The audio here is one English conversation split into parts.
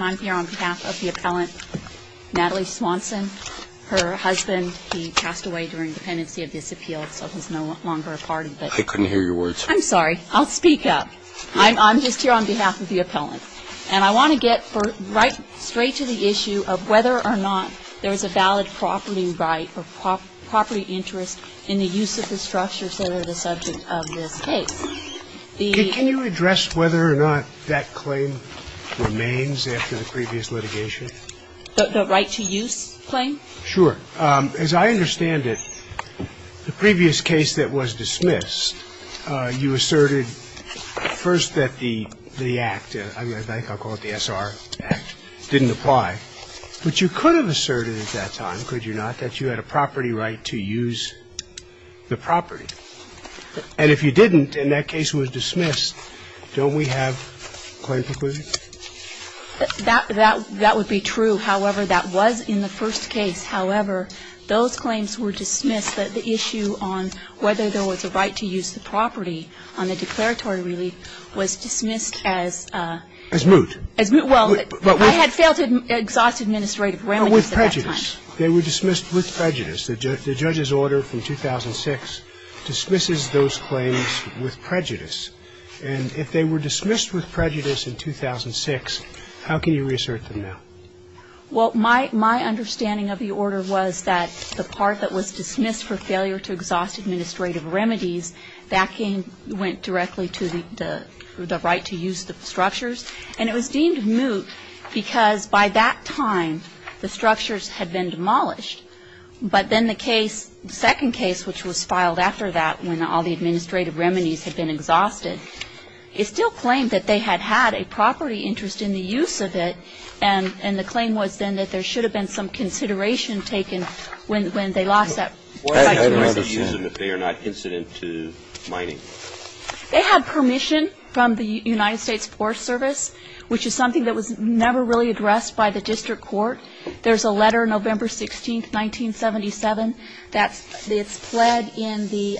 I'm here on behalf of the appellant Natalie Swanson. Her husband, he passed away during dependency of this appeal, so he's no longer a part of it. I couldn't hear your words. I'm sorry. I'll speak up. I'm just here on behalf of the appellant. And I want to get right straight to the issue of whether or not there is a valid property right or property interest in the use of the structures that are the subject of this case. Can you address whether or not that claim remains after the previous litigation? The right to use claim? Sure. As I understand it, the previous case that was dismissed, you asserted first that the act, I think I'll call it the S.R. Act, didn't apply. But you could have asserted at that time, could you not, that you had a property right to use the property. And if you didn't, and that case was dismissed, don't we have claim preclusion? That would be true. However, that was in the first case. However, those claims were dismissed, that the issue on whether there was a right to use the property on the declaratory relief was dismissed as a as moot. As moot. Well, I had failed to exhaust administrative remedies at that time. And if they were dismissed with prejudice, they were dismissed with prejudice. The judge's order from 2006 dismisses those claims with prejudice. And if they were dismissed with prejudice in 2006, how can you reassert them now? Well, my understanding of the order was that the part that was dismissed for failure to exhaust administrative remedies, that went directly to the right to use the structures. And it was deemed moot because by that time, the structures had been demolished. But then the case, the second case, which was filed after that when all the administrative remedies had been exhausted, it still claimed that they had had a property interest in the use of it, and the claim was then that there should have been some consideration taken when they lost that right to use them if they are not incident to mining. They had permission from the United States Forest Service, which is something that was never really addressed by the district court. There's a letter, November 16, 1977, that's pled in the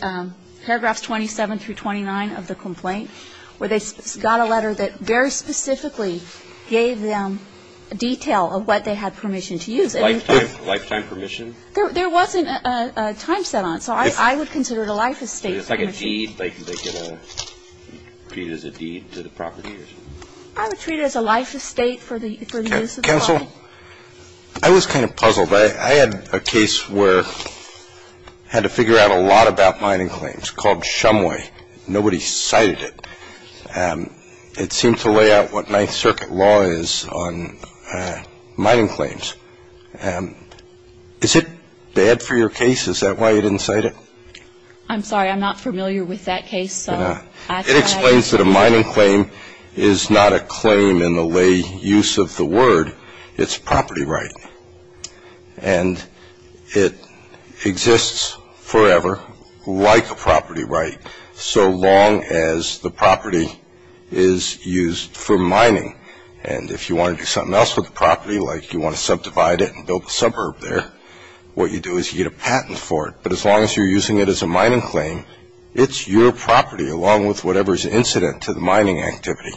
paragraphs 27 through 29 of the complaint, where they got a letter that very specifically gave them detail of what they had permission to use. Lifetime permission? There wasn't a time set on it, so I would consider it a life estate permission. So it's like a deed, like they get treated as a deed to the property? I would treat it as a life estate for the use of the site. Counsel, I was kind of puzzled. I had a case where I had to figure out a lot about mining claims called Shumway. Nobody cited it. It seemed to lay out what Ninth Circuit law is on mining claims. Is it bad for your case? Is that why you didn't cite it? I'm sorry. I'm not familiar with that case. It explains that a mining claim is not a claim in the lay use of the word. It's property right. And it exists forever, like a property right, so long as the property is used for mining. And if you want to do something else with the property, like you want to subdivide it and build a suburb there, what you do is you get a patent for it. But as long as you're using it as a mining claim, it's your property, along with whatever is incident to the mining activity.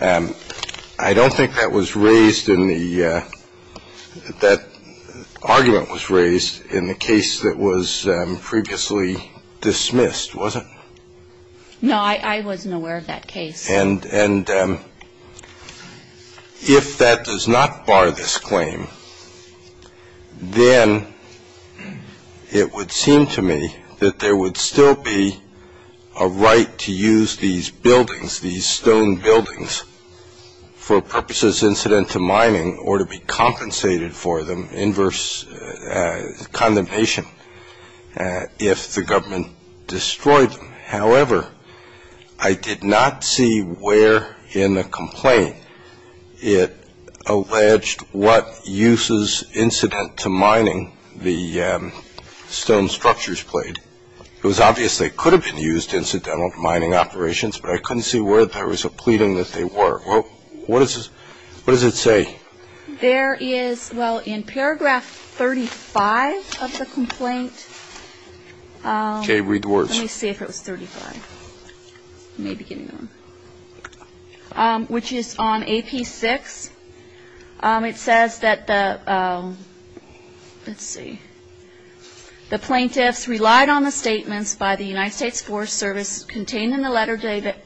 I don't think that was raised in the – that argument was raised in the case that was previously dismissed, was it? No, I wasn't aware of that case. And if that does not bar this claim, then it would seem to me that there would still be a right to use these buildings, these stone buildings, for purposes incident to mining or to be compensated for them, inverse condemnation, if the government destroyed them. However, I did not see where in the complaint it alleged what uses incident to mining the stone structures played. It was obvious they could have been used incidental to mining operations, but I couldn't see where there was a pleading that they were. What does it say? There is – well, in paragraph 35 of the complaint – Okay, read the words. Let me see if it was 35. Which is on AP6. It says that the – let's see. The plaintiffs relied on the statements by the United States Forest Service contained in the letter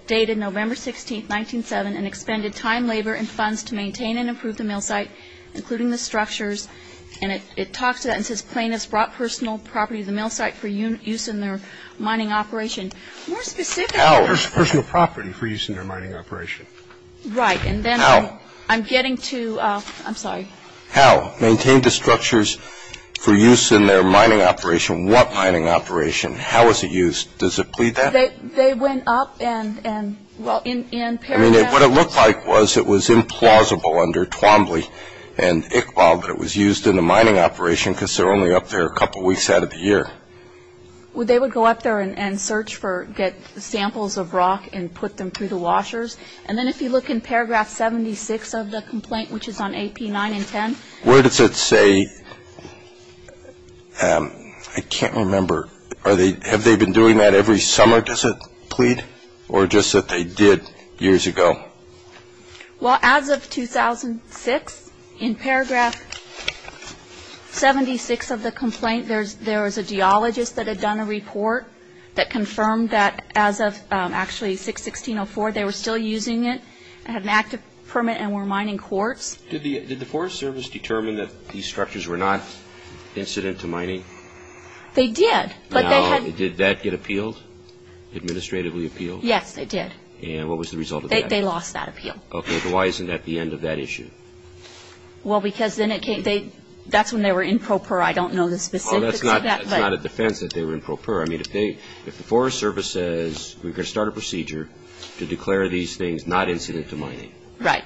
dated November 16, 1907, and expended time, labor, and funds to maintain and improve the mill site, including the structures. And it talks to that and says plaintiffs brought personal property to the mill site for use in their mining operation. More specifically – How? Personal property for use in their mining operation. Right. And then – How? I'm getting to – I'm sorry. How? Maintained the structures for use in their mining operation. What mining operation? How was it used? Does it plead that? They went up and – well, in paragraph – I mean, what it looked like was it was implausible under Twombly and Iqbal that it was used in the mining operation because they're only up there a couple weeks out of the year. Well, they would go up there and search for – get samples of rock and put them through the washers. And then if you look in paragraph 76 of the complaint, which is on AP9 and 10 – Where does it say – I can't remember. Are they – have they been doing that every summer, does it plead? Or just that they did years ago? Well, as of 2006, in paragraph 76 of the complaint, there was a geologist that had done a report that confirmed that as of – actually, 6-1604, they were still using it. It had an active permit and were mining quartz. Did the Forest Service determine that these structures were not incident to mining? They did, but they had – Now, did that get appealed, administratively appealed? Yes, they did. And what was the result of that? They lost that appeal. Okay, but why isn't that the end of that issue? Well, because then it came – that's when they were in pro per. I don't know the specifics of that, but – Well, that's not a defense that they were in pro per. I mean, if they – if the Forest Service says, we're going to start a procedure to declare these things not incident to mining. Right.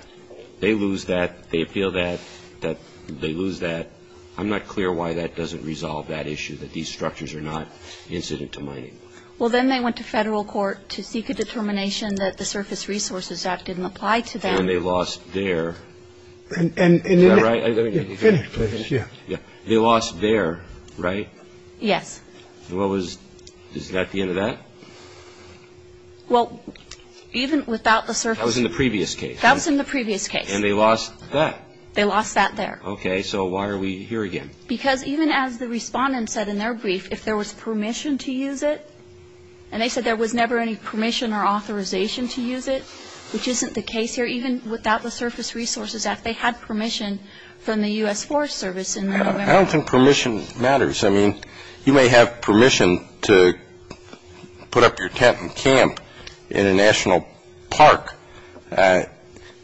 They lose that. They appeal that. They lose that. I'm not clear why that doesn't resolve that issue, that these structures are not incident to mining. Well, then they went to federal court to seek a determination that the Surface Resources Act didn't apply to them. And they lost their – is that right? Finish, please. Yeah. They lost their, right? Yes. What was – is that the end of that? Well, even without the surface – That was in the previous case. That was in the previous case. And they lost that. They lost that there. Okay, so why are we here again? Because even as the respondent said in their brief, if there was permission to use it, and they said there was never any permission or authorization to use it, which isn't the case here, even without the Surface Resources Act, they had permission from the U.S. Forest Service in November. I don't think permission matters. I mean, you may have permission to put up your tent and camp in a national park.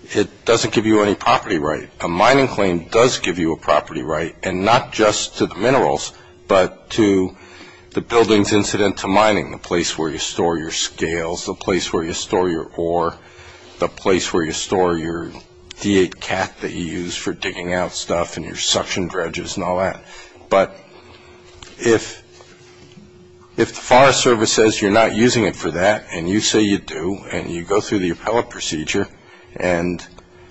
It doesn't give you any property right. A mining claim does give you a property right, and not just to the minerals, but to the building's incident to mining, the place where you store your scales, the place where you store your ore, the place where you store your D8 cat that you use for digging out stuff and your suction dredges and all that. But if the Forest Service says you're not using it for that, and you say you do, and you go through the appellate procedure, and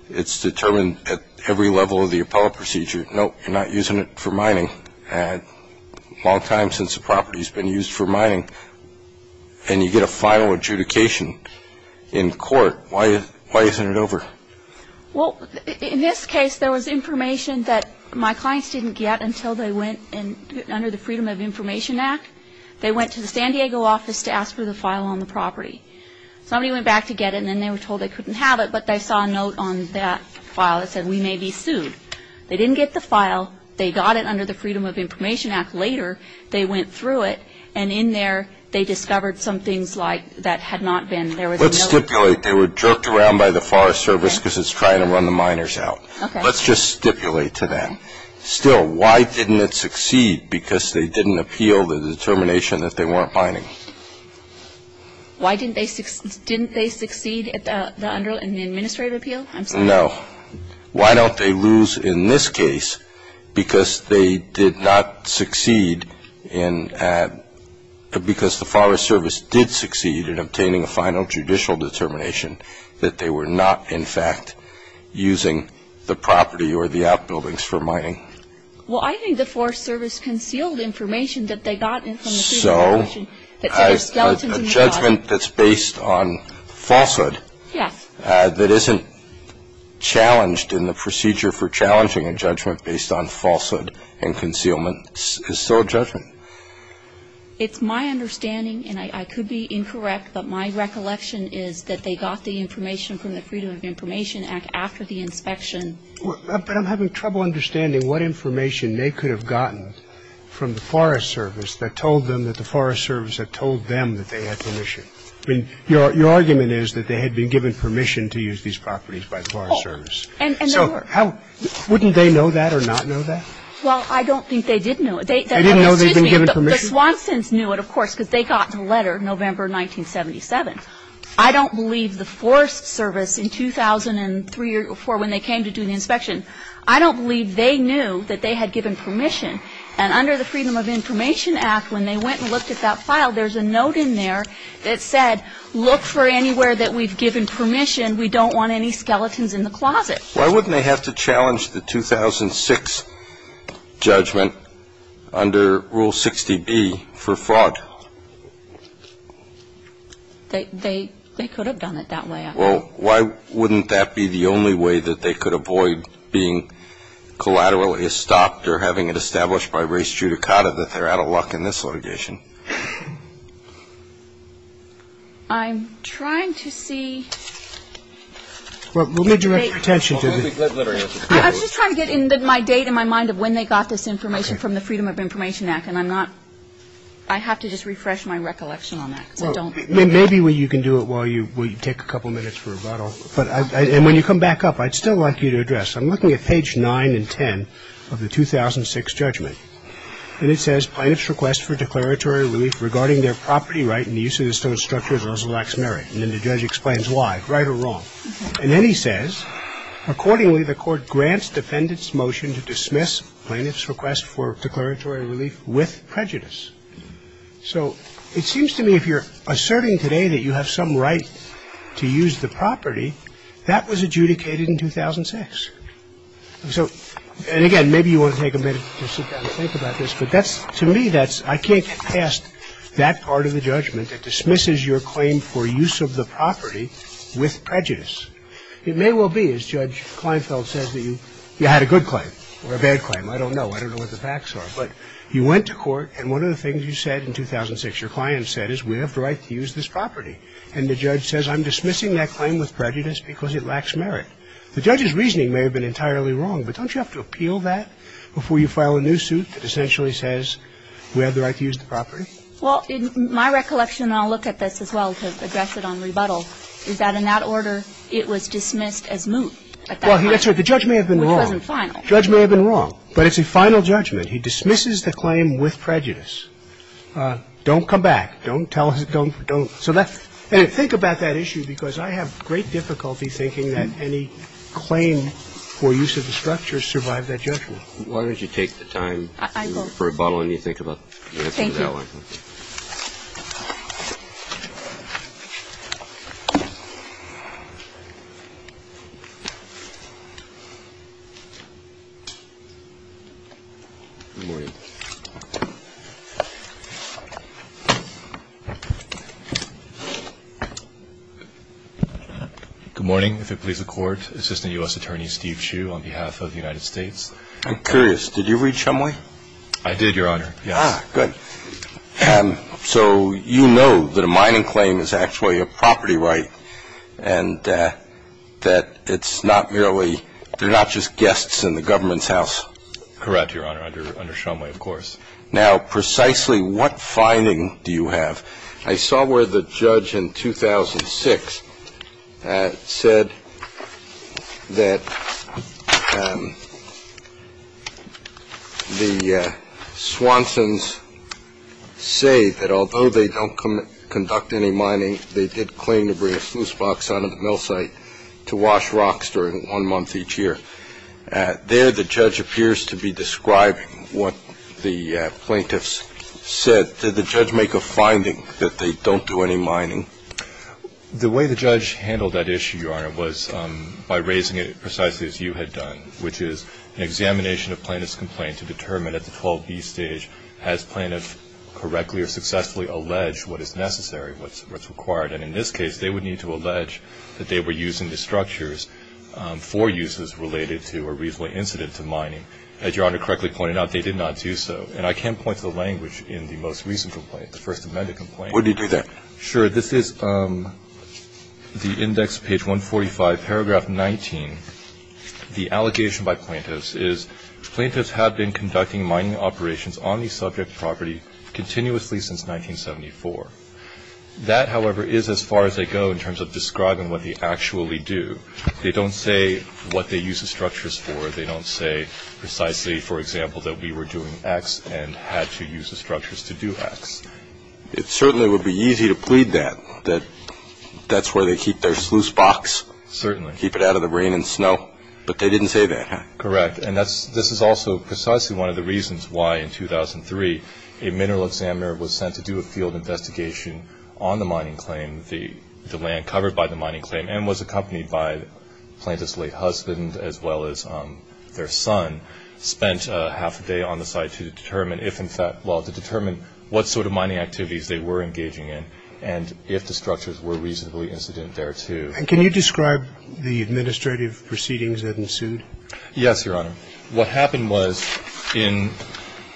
it's determined at every level of the appellate procedure, nope, you're not using it for mining, a long time since the property's been used for mining, and you get a final adjudication in court, why isn't it over? Well, in this case, there was information that my clients didn't get until they went under the Freedom of Information Act. They went to the San Diego office to ask for the file on the property. Somebody went back to get it, and then they were told they couldn't have it, but they saw a note on that file that said we may be sued. They didn't get the file. They got it under the Freedom of Information Act later. They went through it, and in there, they discovered some things like that had not been. There was a note. Let's stipulate they were jerked around by the Forest Service because it's trying to run the miners out. Okay. Let's just stipulate to them. Still, why didn't it succeed? Because they didn't appeal the determination that they weren't mining. Why didn't they succeed? Didn't they succeed in the administrative appeal? No. Why don't they lose in this case because they did not succeed in – because the Forest Service did succeed in obtaining a final judicial determination that they were not, in fact, using the property or the outbuildings for mining? Well, I think the Forest Service concealed information that they got from the Freedom of Information Act. So a judgment that's based on falsehood that isn't challenged in the procedure for challenging a judgment based on falsehood and concealment is still a judgment. It's my understanding, and I could be incorrect, but my recollection is that they got the information from the Freedom of Information Act after the inspection. But I'm having trouble understanding what information they could have gotten from the Forest Service that told them that the Forest Service had told them that they had permission. I mean, your argument is that they had been given permission to use these properties by the Forest Service. Oh, and they were. So wouldn't they know that or not know that? Well, I don't think they did know it. They didn't know they'd been given permission? The Swansons knew it, of course, because they got the letter November 1977. I don't believe the Forest Service in 2003 or 2004, when they came to do the inspection, I don't believe they knew that they had given permission. And under the Freedom of Information Act, when they went and looked at that file, there's a note in there that said, look for anywhere that we've given permission. We don't want any skeletons in the closet. Why wouldn't they have to challenge the 2006 judgment under Rule 60B for fraud? They could have done it that way, I think. Well, why wouldn't that be the only way that they could avoid being collaterally stopped or having it established by race judicata that they're out of luck in this litigation? I'm trying to see. Well, let me direct your attention to this. I was just trying to get my date in my mind of when they got this information from the Freedom of Information Act, and I'm not ‑‑ I have to just refresh my recollection on that because I don't ‑‑ Well, maybe you can do it while you take a couple minutes for rebuttal. And when you come back up, I'd still like you to address. I'm looking at page 9 and 10 of the 2006 judgment. And it says, Plaintiff's request for declaratory relief regarding their property right in the use of the stone structure is also laximary. And then the judge explains why, right or wrong. And then he says, Accordingly, the court grants defendants motion to dismiss plaintiff's request for declaratory relief with prejudice. So it seems to me if you're asserting today that you have some right to use the property, that was adjudicated in 2006. So, and again, maybe you want to take a minute to sit down and think about this, but that's, to me, that's, I can't get past that part of the judgment that dismisses your claim for use of the property with prejudice. It may well be, as Judge Kleinfeld says, that you had a good claim or a bad claim. I don't know. I don't know what the facts are. But you went to court, and one of the things you said in 2006, your client said, is we have the right to use this property. And the judge says, I'm dismissing that claim with prejudice because it lacks merit. The judge's reasoning may have been entirely wrong. But don't you have to appeal that before you file a new suit that essentially says we have the right to use the property? Well, in my recollection, and I'll look at this as well to address it on rebuttal, is that in that order, it was dismissed as moot. Well, that's right. The judge may have been wrong. Which wasn't final. The judge may have been wrong. But it's a final judgment. He dismisses the claim with prejudice. Don't come back. Don't tell him, don't, don't. So that's – and think about that issue, because I have great difficulty thinking that any claim for use of the structure survived that judgment. Why don't you take the time for rebuttal and you think about the answer to that one. Thank you. Good morning. Good morning. If it please the Court, Assistant U.S. Attorney Steve Hsu on behalf of the United States. I'm curious. Did you read Chemway? I did, Your Honor. Ah, good. So you know that a mining claim is actually a property right and that it's not merely – they're not just guests in the government's house. Correct, Your Honor. Under Chemway, of course. Now, precisely what finding do you have? I saw where the judge in 2006 said that the Swansons say that although they don't conduct any mining, they did claim to bring a sluice box out of the mill site to wash rocks during one month each year. There the judge appears to be describing what the plaintiffs said. Did the judge make a finding that they don't do any mining? The way the judge handled that issue, Your Honor, was by raising it precisely as you had done, which is an examination of plaintiff's complaint to determine at the 12B stage has plaintiff correctly or successfully alleged what is necessary, what's required. And in this case, they would need to allege that they were using the structures for uses related to a reasonable incident to mining. As Your Honor correctly pointed out, they did not do so. And I can point to the language in the most recent complaint, the First Amendment complaint. Where did he do that? Sure. This is the index page 145, paragraph 19. The allegation by plaintiffs is plaintiffs have been conducting mining operations on the subject property continuously since 1974. That, however, is as far as they go in terms of describing what they actually do. They don't say what they use the structures for. They don't say precisely, for example, that we were doing X and had to use the structures to do X. It certainly would be easy to plead that, that that's where they keep their sluice box. Certainly. Keep it out of the rain and snow. But they didn't say that, huh? Correct. And that's, this is also precisely one of the reasons why in 2003 a mineral examiner was sent to do a field investigation on the mining claim, the land covered by the mining claim, and was accompanied by the plaintiff's late husband as well as their son, spent half a day on the site to determine if in fact, well, to determine what sort of mining activities they were engaging in and if the structures were reasonably incident thereto. And can you describe the administrative proceedings that ensued? Yes, Your Honor. What happened was in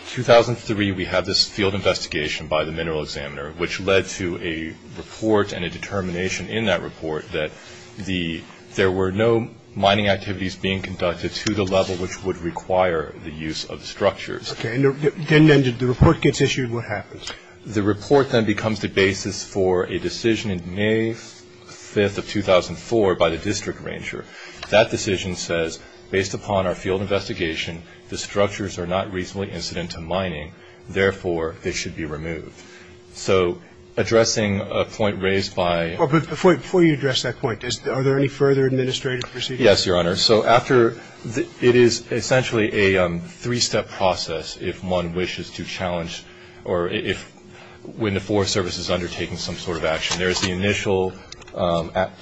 2003 we had this field investigation by the mineral examiner, which led to a report and a determination in that report that the, there were no mining activities being conducted to the level which would require the use of structures. Okay. And then the report gets issued. What happens? The report then becomes the basis for a decision in May 5th of 2004 by the district arranger. That decision says, based upon our field investigation, the structures are not reasonably incident to mining, therefore, they should be removed. So addressing a point raised by. Before you address that point, are there any further administrative proceedings? Yes, Your Honor. So after, it is essentially a three-step process if one wishes to challenge or if, when the Forest Service is undertaking some sort of action. There is the initial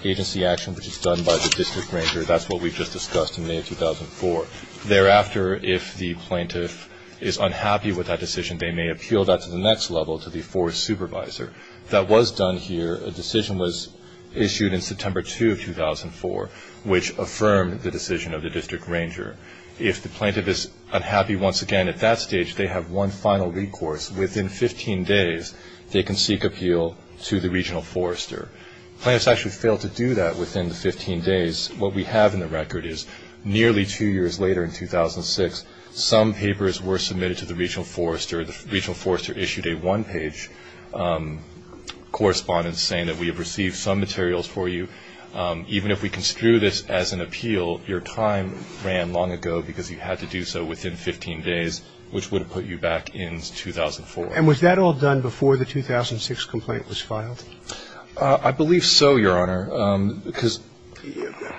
agency action, which is done by the district arranger. That's what we just discussed in May of 2004. Thereafter, if the plaintiff is unhappy with that decision, they may appeal that to the next level to the forest supervisor. That was done here. A decision was issued in September 2 of 2004, which affirmed the decision of the district arranger. If the plaintiff is unhappy once again at that stage, they have one final recourse. Within 15 days, they can seek appeal to the regional forester. Plaintiffs actually failed to do that within the 15 days. What we have in the record is nearly two years later in 2006, some papers were submitted to the regional forester. The regional forester issued a one-page correspondence saying that we have received some materials for you. Even if we construe this as an appeal, your time ran long ago because you had to do so within 15 days, which would have put you back in 2004. And was that all done before the 2006 complaint was filed? I believe so, Your Honor, because,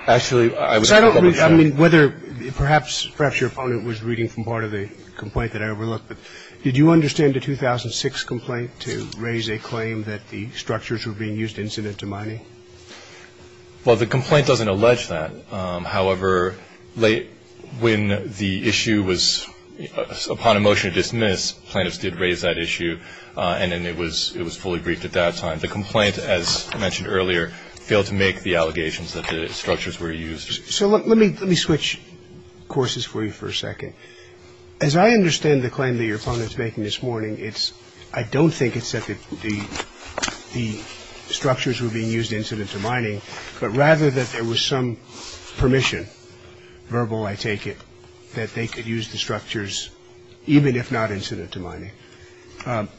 actually, I was a little unsure. So I don't know if you mean whether perhaps your opponent was reading from part of the complaint that I overlooked, but did you understand the 2006 complaint to raise a claim that the structures were being used incident to money? Well, the complaint doesn't allege that. However, when the issue was upon a motion to dismiss, plaintiffs did raise that issue, and then it was fully briefed at that time. The complaint, as I mentioned earlier, failed to make the allegations that the structures were used. So let me switch courses for you for a second. As I understand the claim that your opponent is making this morning, I don't think it said that the structures were being used incident to mining, but rather that there was some permission, verbal, I take it, that they could use the structures even if not incident to mining.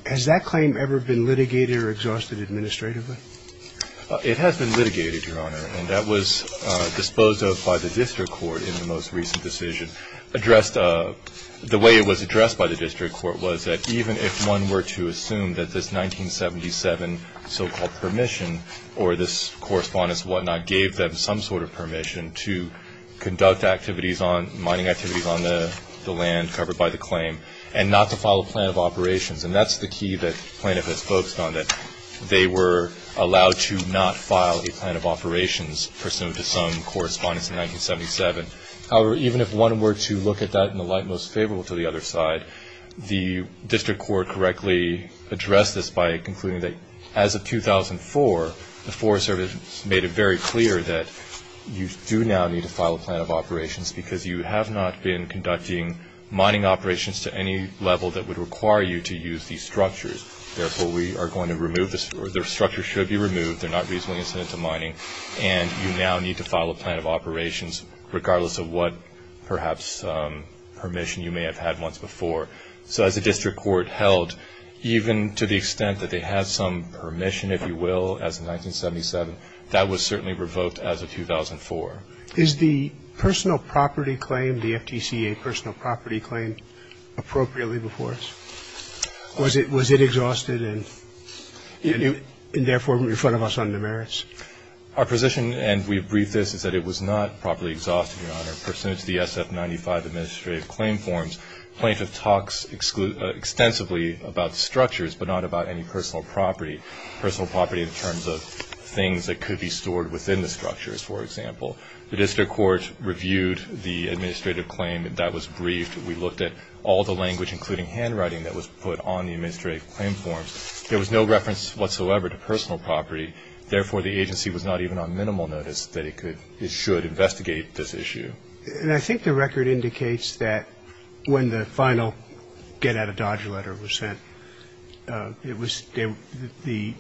Has that claim ever been litigated or exhausted administratively? It has been litigated, Your Honor, and that was disposed of by the district court in the most recent decision. The way it was addressed by the district court was that even if one were to assume that this 1977 so-called permission or this correspondence and whatnot gave them some sort of permission to conduct activities on, mining activities on the land covered by the claim and not to file a plan of operations, and that's the key that plaintiff has focused on, that they were allowed to not file a plan of operations pursuant to some correspondence in 1977. However, even if one were to look at that in the light most favorable to the other side, the district court correctly addressed this by concluding that as of 2004, the Forest Service made it very clear that you do now need to file a plan of operations because you have not been conducting mining operations to any level that would require you to use these structures. Therefore, we are going to remove this, or the structures should be removed. They're not reasonably incident to mining, and you now need to file a plan of operations regardless of what perhaps permission you may have had once before. So as the district court held, even to the extent that they had some permission, if you will, as of 1977, that was certainly revoked as of 2004. Is the personal property claim, the FTCA personal property claim, appropriately before us? Was it exhausted and therefore in front of us under merits? Our position, and we briefed this, is that it was not properly exhausted, Your Honor. Pursuant to the SF-95 administrative claim forms, plaintiff talks extensively about structures but not about any personal property, personal property in terms of things that could be stored within the structures, for example. The district court reviewed the administrative claim. That was briefed. We looked at all the language, including handwriting, that was put on the administrative claim forms. There was no reference whatsoever to personal property. Therefore, the agency was not even on minimal notice that it should investigate this issue. And I think the record indicates that when the final get-out-of-Dodge letter was sent, the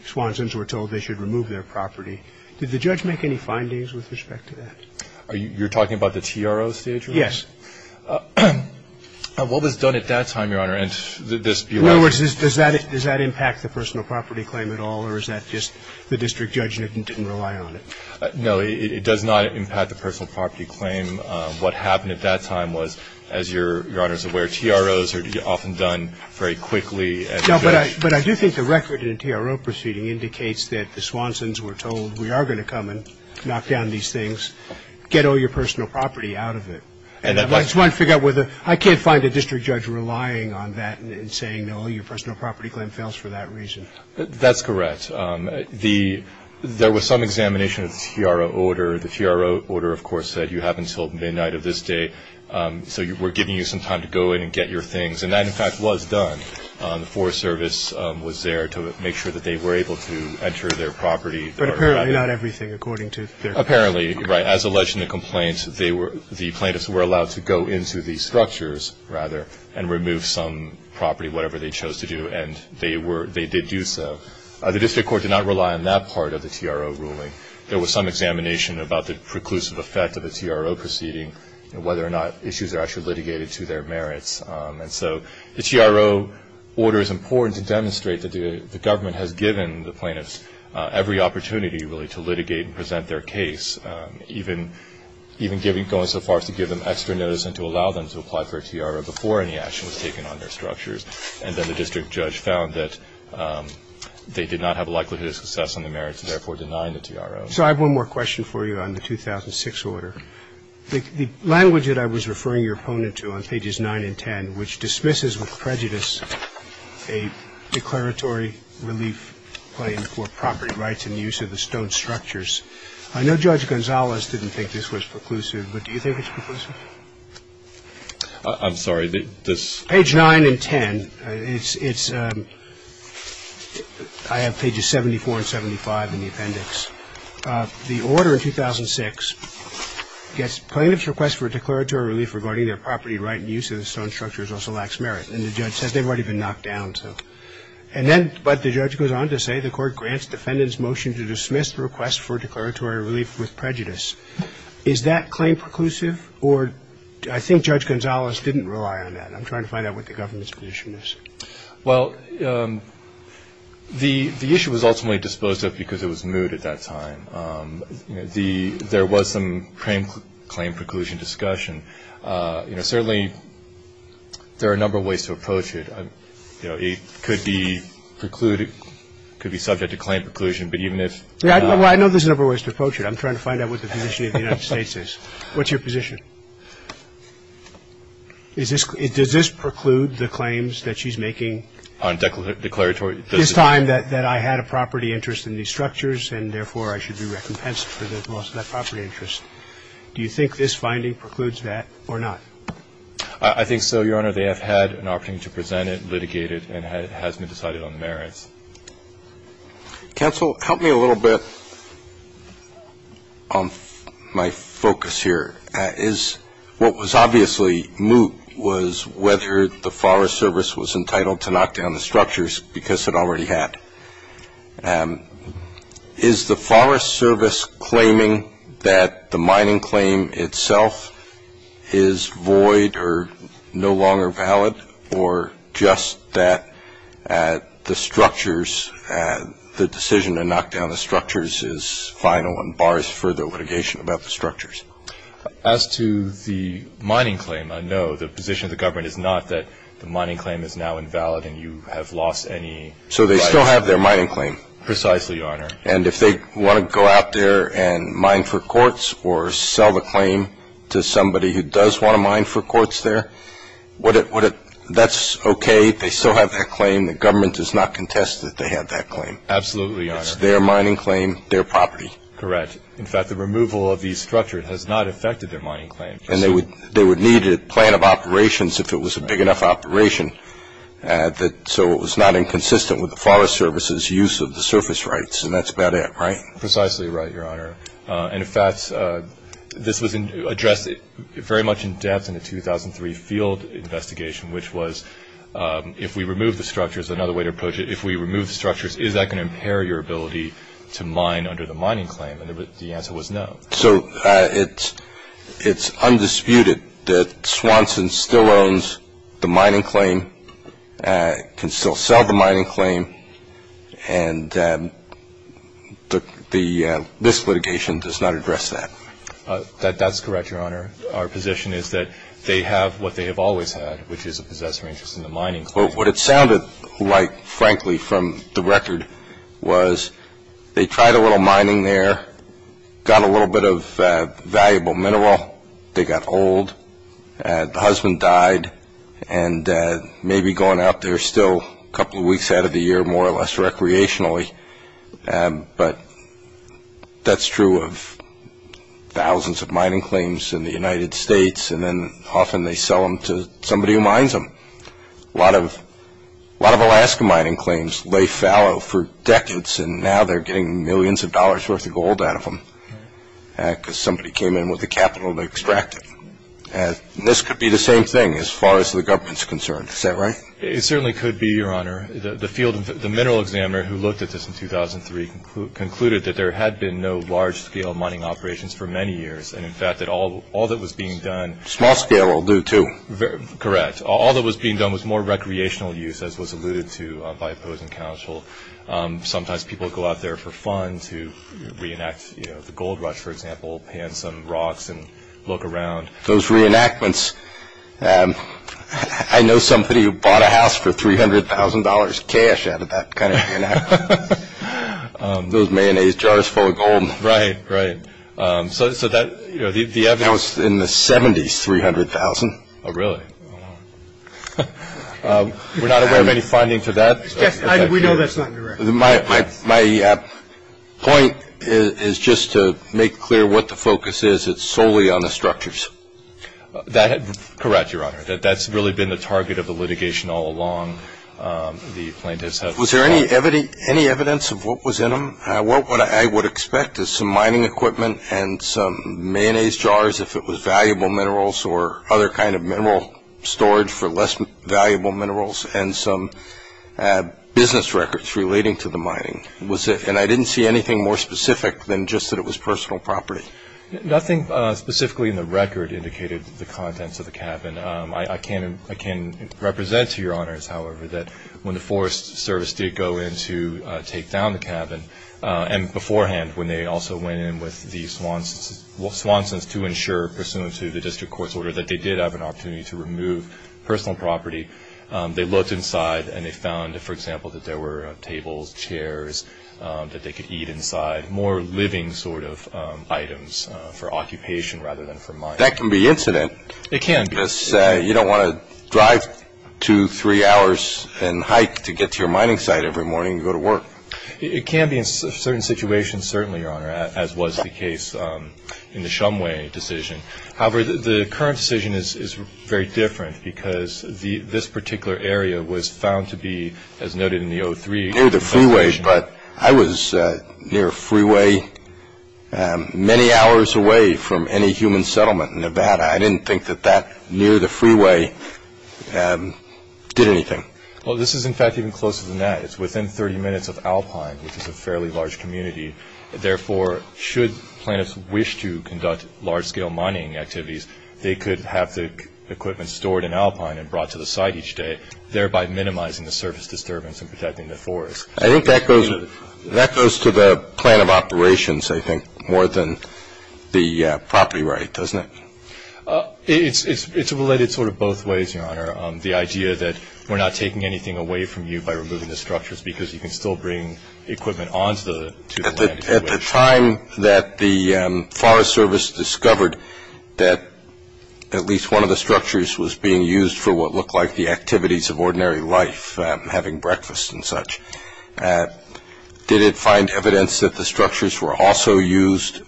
Swansons were told they should remove their property. Did the judge make any findings with respect to that? You're talking about the TRO stage? Yes. What was done at that time, Your Honor, and this belapsed? In other words, does that impact the personal property claim at all, or is that just the district judge didn't rely on it? No, it does not impact the personal property claim. What happened at that time was, as Your Honor is aware, TROs are often done very quickly. No, but I do think the record in a TRO proceeding indicates that the Swansons were told, we are going to come and knock down these things, get all your personal property out of it. I just want to figure out whether I can't find a district judge relying on that and saying, no, your personal property claim fails for that reason. That's correct. There was some examination of the TRO order. The TRO order, of course, said you have until midnight of this day, so we're giving you some time to go in and get your things. And that, in fact, was done. The Forest Service was there to make sure that they were able to enter their property. But apparently not everything, according to their claim. Apparently, right, as alleged in the complaint, the plaintiffs were allowed to go into the structures, rather, and remove some property, whatever they chose to do, and they did do so. The district court did not rely on that part of the TRO ruling. There was some examination about the preclusive effect of a TRO proceeding and whether or not issues are actually litigated to their merits. And so the TRO order is important to demonstrate that the government has given the plaintiffs every opportunity, really, to litigate and present their case, even going so far as to give them extra notice and to allow them to apply for a TRO before any action was taken on their structures. And then the district judge found that they did not have a likelihood of success on the merits, and therefore denied the TRO. So I have one more question for you on the 2006 order. The language that I was referring your opponent to on pages 9 and 10, which dismisses with prejudice a declaratory relief claim for property rights and use of the stone structures. I know Judge Gonzalez didn't think this was preclusive, but do you think it's preclusive? I'm sorry. Page 9 and 10. It's – I have pages 74 and 75 in the appendix. The order in 2006 gets plaintiffs' request for a declaratory relief regarding their property right and use of the stone structures also lacks merit. And the judge says they've already been knocked down. And then – but the judge goes on to say the court grants defendants' motion to dismiss the request for declaratory relief with prejudice. Is that claim preclusive? Or I think Judge Gonzalez didn't rely on that. I'm trying to find out what the government's position is. Well, the issue was ultimately disposed of because it was moot at that time. You know, there was some claim preclusion discussion. You know, certainly there are a number of ways to approach it. You know, it could be precluded – could be subject to claim preclusion, but even if – Well, I know there's a number of ways to approach it. I'm trying to find out what the position of the United States is. What's your position? Does this preclude the claims that she's making? On declaratory – It is time that I had a property interest in these structures, and therefore I should be recompensed for the loss of that property interest. Do you think this finding precludes that or not? I think so, Your Honor. They have had an opportunity to present it, litigate it, and it has been decided on merits. Counsel, help me a little bit on my focus here. What was obviously moot was whether the Forest Service was entitled to knock down the structures because it already had. Is the Forest Service claiming that the mining claim itself is void or no longer valid, or just that the structures – the decision to knock down the structures is final and bars further litigation about the structures? As to the mining claim, I know the position of the government is not that the mining claim is now invalid and you have lost any – So they still have their mining claim. Precisely, Your Honor. And if they want to go out there and mine for courts or sell the claim to somebody who does want to mine for courts there, that's okay. They still have that claim. The government does not contest that they have that claim. Absolutely, Your Honor. It's their mining claim, their property. Correct. In fact, the removal of these structures has not affected their mining claim. And they would need a plan of operations if it was a big enough operation so it was not inconsistent with the Forest Service's use of the surface rights, and that's about it, right? Precisely right, Your Honor. In fact, this was addressed very much in depth in the 2003 field investigation, which was if we remove the structures, another way to approach it, if we remove the structures, is that going to impair your ability to mine under the mining claim? And the answer was no. So it's undisputed that Swanson still owns the mining claim, can still sell the mining claim, and this litigation does not address that. That's correct, Your Honor. Our position is that they have what they have always had, which is a possessor interest in the mining claim. But what it sounded like, frankly, from the record was they tried a little mining there, got a little bit of valuable mineral, they got old, the husband died, and may be going out there still a couple of weeks out of the year more or less recreationally. But that's true of thousands of mining claims in the United States, and then often they sell them to somebody who mines them. A lot of Alaska mining claims lay fallow for decades, and now they're getting millions of dollars worth of gold out of them because somebody came in with the capital to extract it. And this could be the same thing as far as the government's concerned. Is that right? It certainly could be, Your Honor. The mineral examiner who looked at this in 2003 concluded that there had been no large-scale mining operations for many years, and, in fact, that all that was being done… Small-scale will do, too. Correct. All that was being done was more recreational use, as was alluded to by opposing counsel. Sometimes people go out there for fun to reenact the gold rush, for example, pan some rocks and look around. Those reenactments, I know somebody who bought a house for $300,000 cash out of that kind of reenactment. Those mayonnaise jars full of gold. Right, right. So that, you know, the evidence… That was in the 70s, $300,000. Oh, really? We're not aware of any finding for that? We know that's not correct. My point is just to make clear what the focus is. It's solely on the structures. Correct, Your Honor. That's really been the target of the litigation all along. The plaintiffs have… Was there any evidence of what was in them? What I would expect is some mining equipment and some mayonnaise jars, if it was valuable minerals or other kind of mineral storage for less valuable minerals, and some business records relating to the mining. And I didn't see anything more specific than just that it was personal property. Nothing specifically in the record indicated the contents of the cabin. I can represent to Your Honors, however, that when the Forest Service did go in to take down the cabin, and beforehand when they also went in with the Swansons to ensure, pursuant to the district court's order, that they did have an opportunity to remove personal property, they looked inside and they found, for example, that there were tables, chairs, that they could eat inside, more living sort of items for occupation rather than for mining. That can be incident. It can be. You don't want to drive two, three hours and hike to get to your mining site every morning and go to work. It can be in certain situations, certainly, Your Honor, as was the case in the Shumway decision. However, the current decision is very different because this particular area was found to be, as noted in the 03… Near the freeway, but I was near a freeway many hours away from any human settlement in Nevada. I didn't think that that near the freeway did anything. Well, this is, in fact, even closer than that. It's within 30 minutes of Alpine, which is a fairly large community. Therefore, should plaintiffs wish to conduct large-scale mining activities, they could have the equipment stored in Alpine and brought to the site each day, thereby minimizing the service disturbance and protecting the forest. I think that goes to the plan of operations, I think, more than the property right, doesn't it? It's related sort of both ways, Your Honor. The idea that we're not taking anything away from you by removing the structures because you can still bring equipment on to the land if you wish. At the time that the Forest Service discovered that at least one of the structures was being used for what looked like the activities of ordinary life, having breakfast and such, did it find evidence that the structures were also used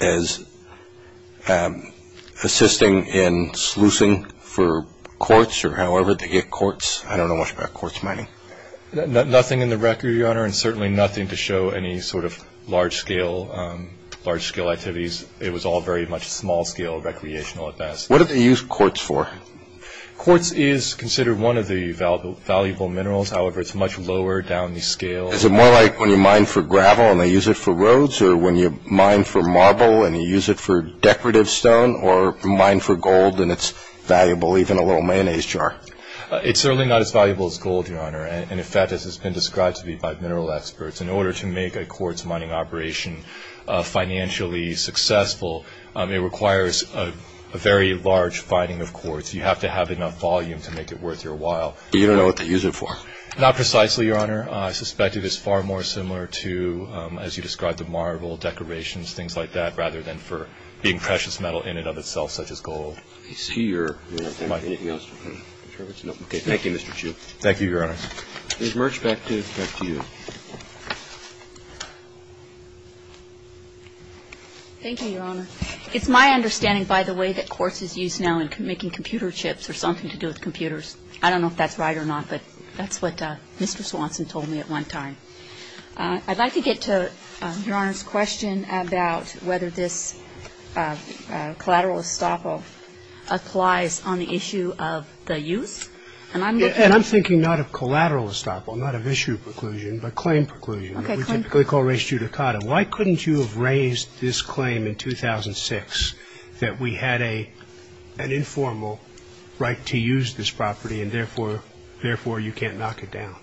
as assisting in sluicing for quartz or however they get quartz? I don't know much about quartz mining. Nothing in the record, Your Honor, and certainly nothing to show any sort of large-scale activities. It was all very much small-scale recreational at best. What do they use quartz for? Quartz is considered one of the valuable minerals. However, it's much lower down the scale. Is it more like when you mine for gravel and they use it for roads or when you mine for marble and you use it for decorative stone or mine for gold and it's valuable even a little mayonnaise jar? It's certainly not as valuable as gold, Your Honor. In fact, as it's been described to be by mineral experts, in order to make a quartz mining operation financially successful, it requires a very large finding of quartz. You have to have enough volume to make it worth your while. You don't know what they use it for? Not precisely, Your Honor. I suspect it is far more similar to, as you described, the marble, decorations, things like that, rather than for being precious metal in and of itself, such as gold. I see you're running out of time. Anything else? Okay. Thank you, Mr. Chu. Thank you, Your Honor. Ms. Merch, back to you. Thank you, Your Honor. It's my understanding, by the way, that quartz is used now in making computer chips or something to do with computers. I don't know if that's right or not, but that's what Mr. Swanson told me at one time. I'd like to get to Your Honor's question about whether this collateral estoppel applies on the issue of the use. And I'm looking at the issue of the use. And I'm thinking not of collateral estoppel, not of issue preclusion. But claim preclusion, which we typically call res judicata. Why couldn't you have raised this claim in 2006 that we had an informal right to use this property and, therefore, you can't knock it down?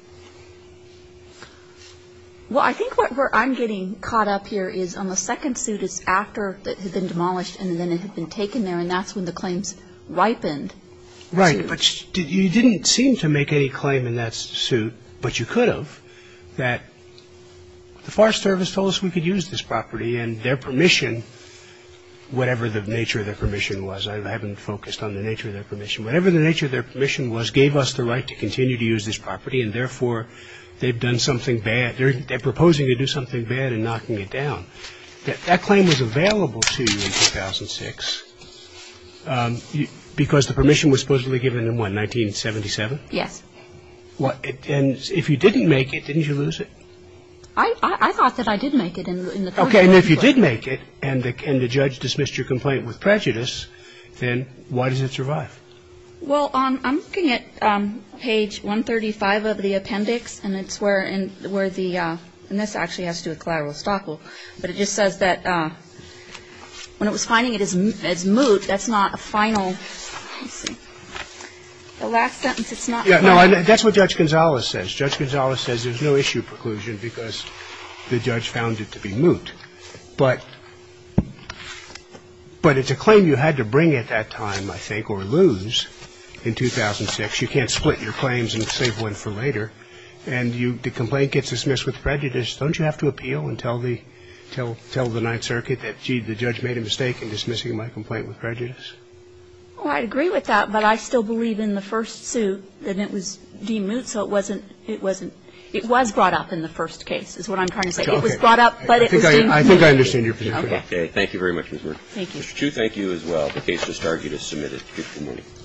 Well, I think where I'm getting caught up here is on the second suit, it's after it had been demolished and then it had been taken there. And that's when the claims ripened. Right. But you didn't seem to make any claim in that suit. But you could have, that the Forest Service told us we could use this property and their permission, whatever the nature of their permission was. I haven't focused on the nature of their permission. Whatever the nature of their permission was gave us the right to continue to use this property and, therefore, they've done something bad. They're proposing to do something bad and knocking it down. That claim was available to you in 2006 because the permission was supposedly given in what, 1977? Yes. And if you didn't make it, didn't you lose it? I thought that I did make it in the first instance. Okay. And if you did make it and the judge dismissed your complaint with prejudice, then why does it survive? Well, I'm looking at page 135 of the appendix, and it's where the ‑‑ and this actually has to do with collateral estoppel. But it just says that when it was finding it as moot, that's not a final. Let's see. The last sentence, it's not final. No, that's what Judge Gonzales says. Judge Gonzales says there's no issue preclusion because the judge found it to be moot. But it's a claim you had to bring at that time, I think, or lose in 2006. You can't split your claims and save one for later. And the complaint gets dismissed with prejudice. Don't you have to appeal and tell the Ninth Circuit that, gee, the judge made a mistake in dismissing my complaint with prejudice? Well, I agree with that. But I still believe in the first suit that it was deemed moot. So it wasn't ‑‑ it was brought up in the first case is what I'm trying to say. It was brought up, but it was deemed moot. Okay. I think I understand your position. Okay. Thank you very much, Ms. Moore. Thank you. Mr. Chu, thank you as well. The case has started. You can submit it.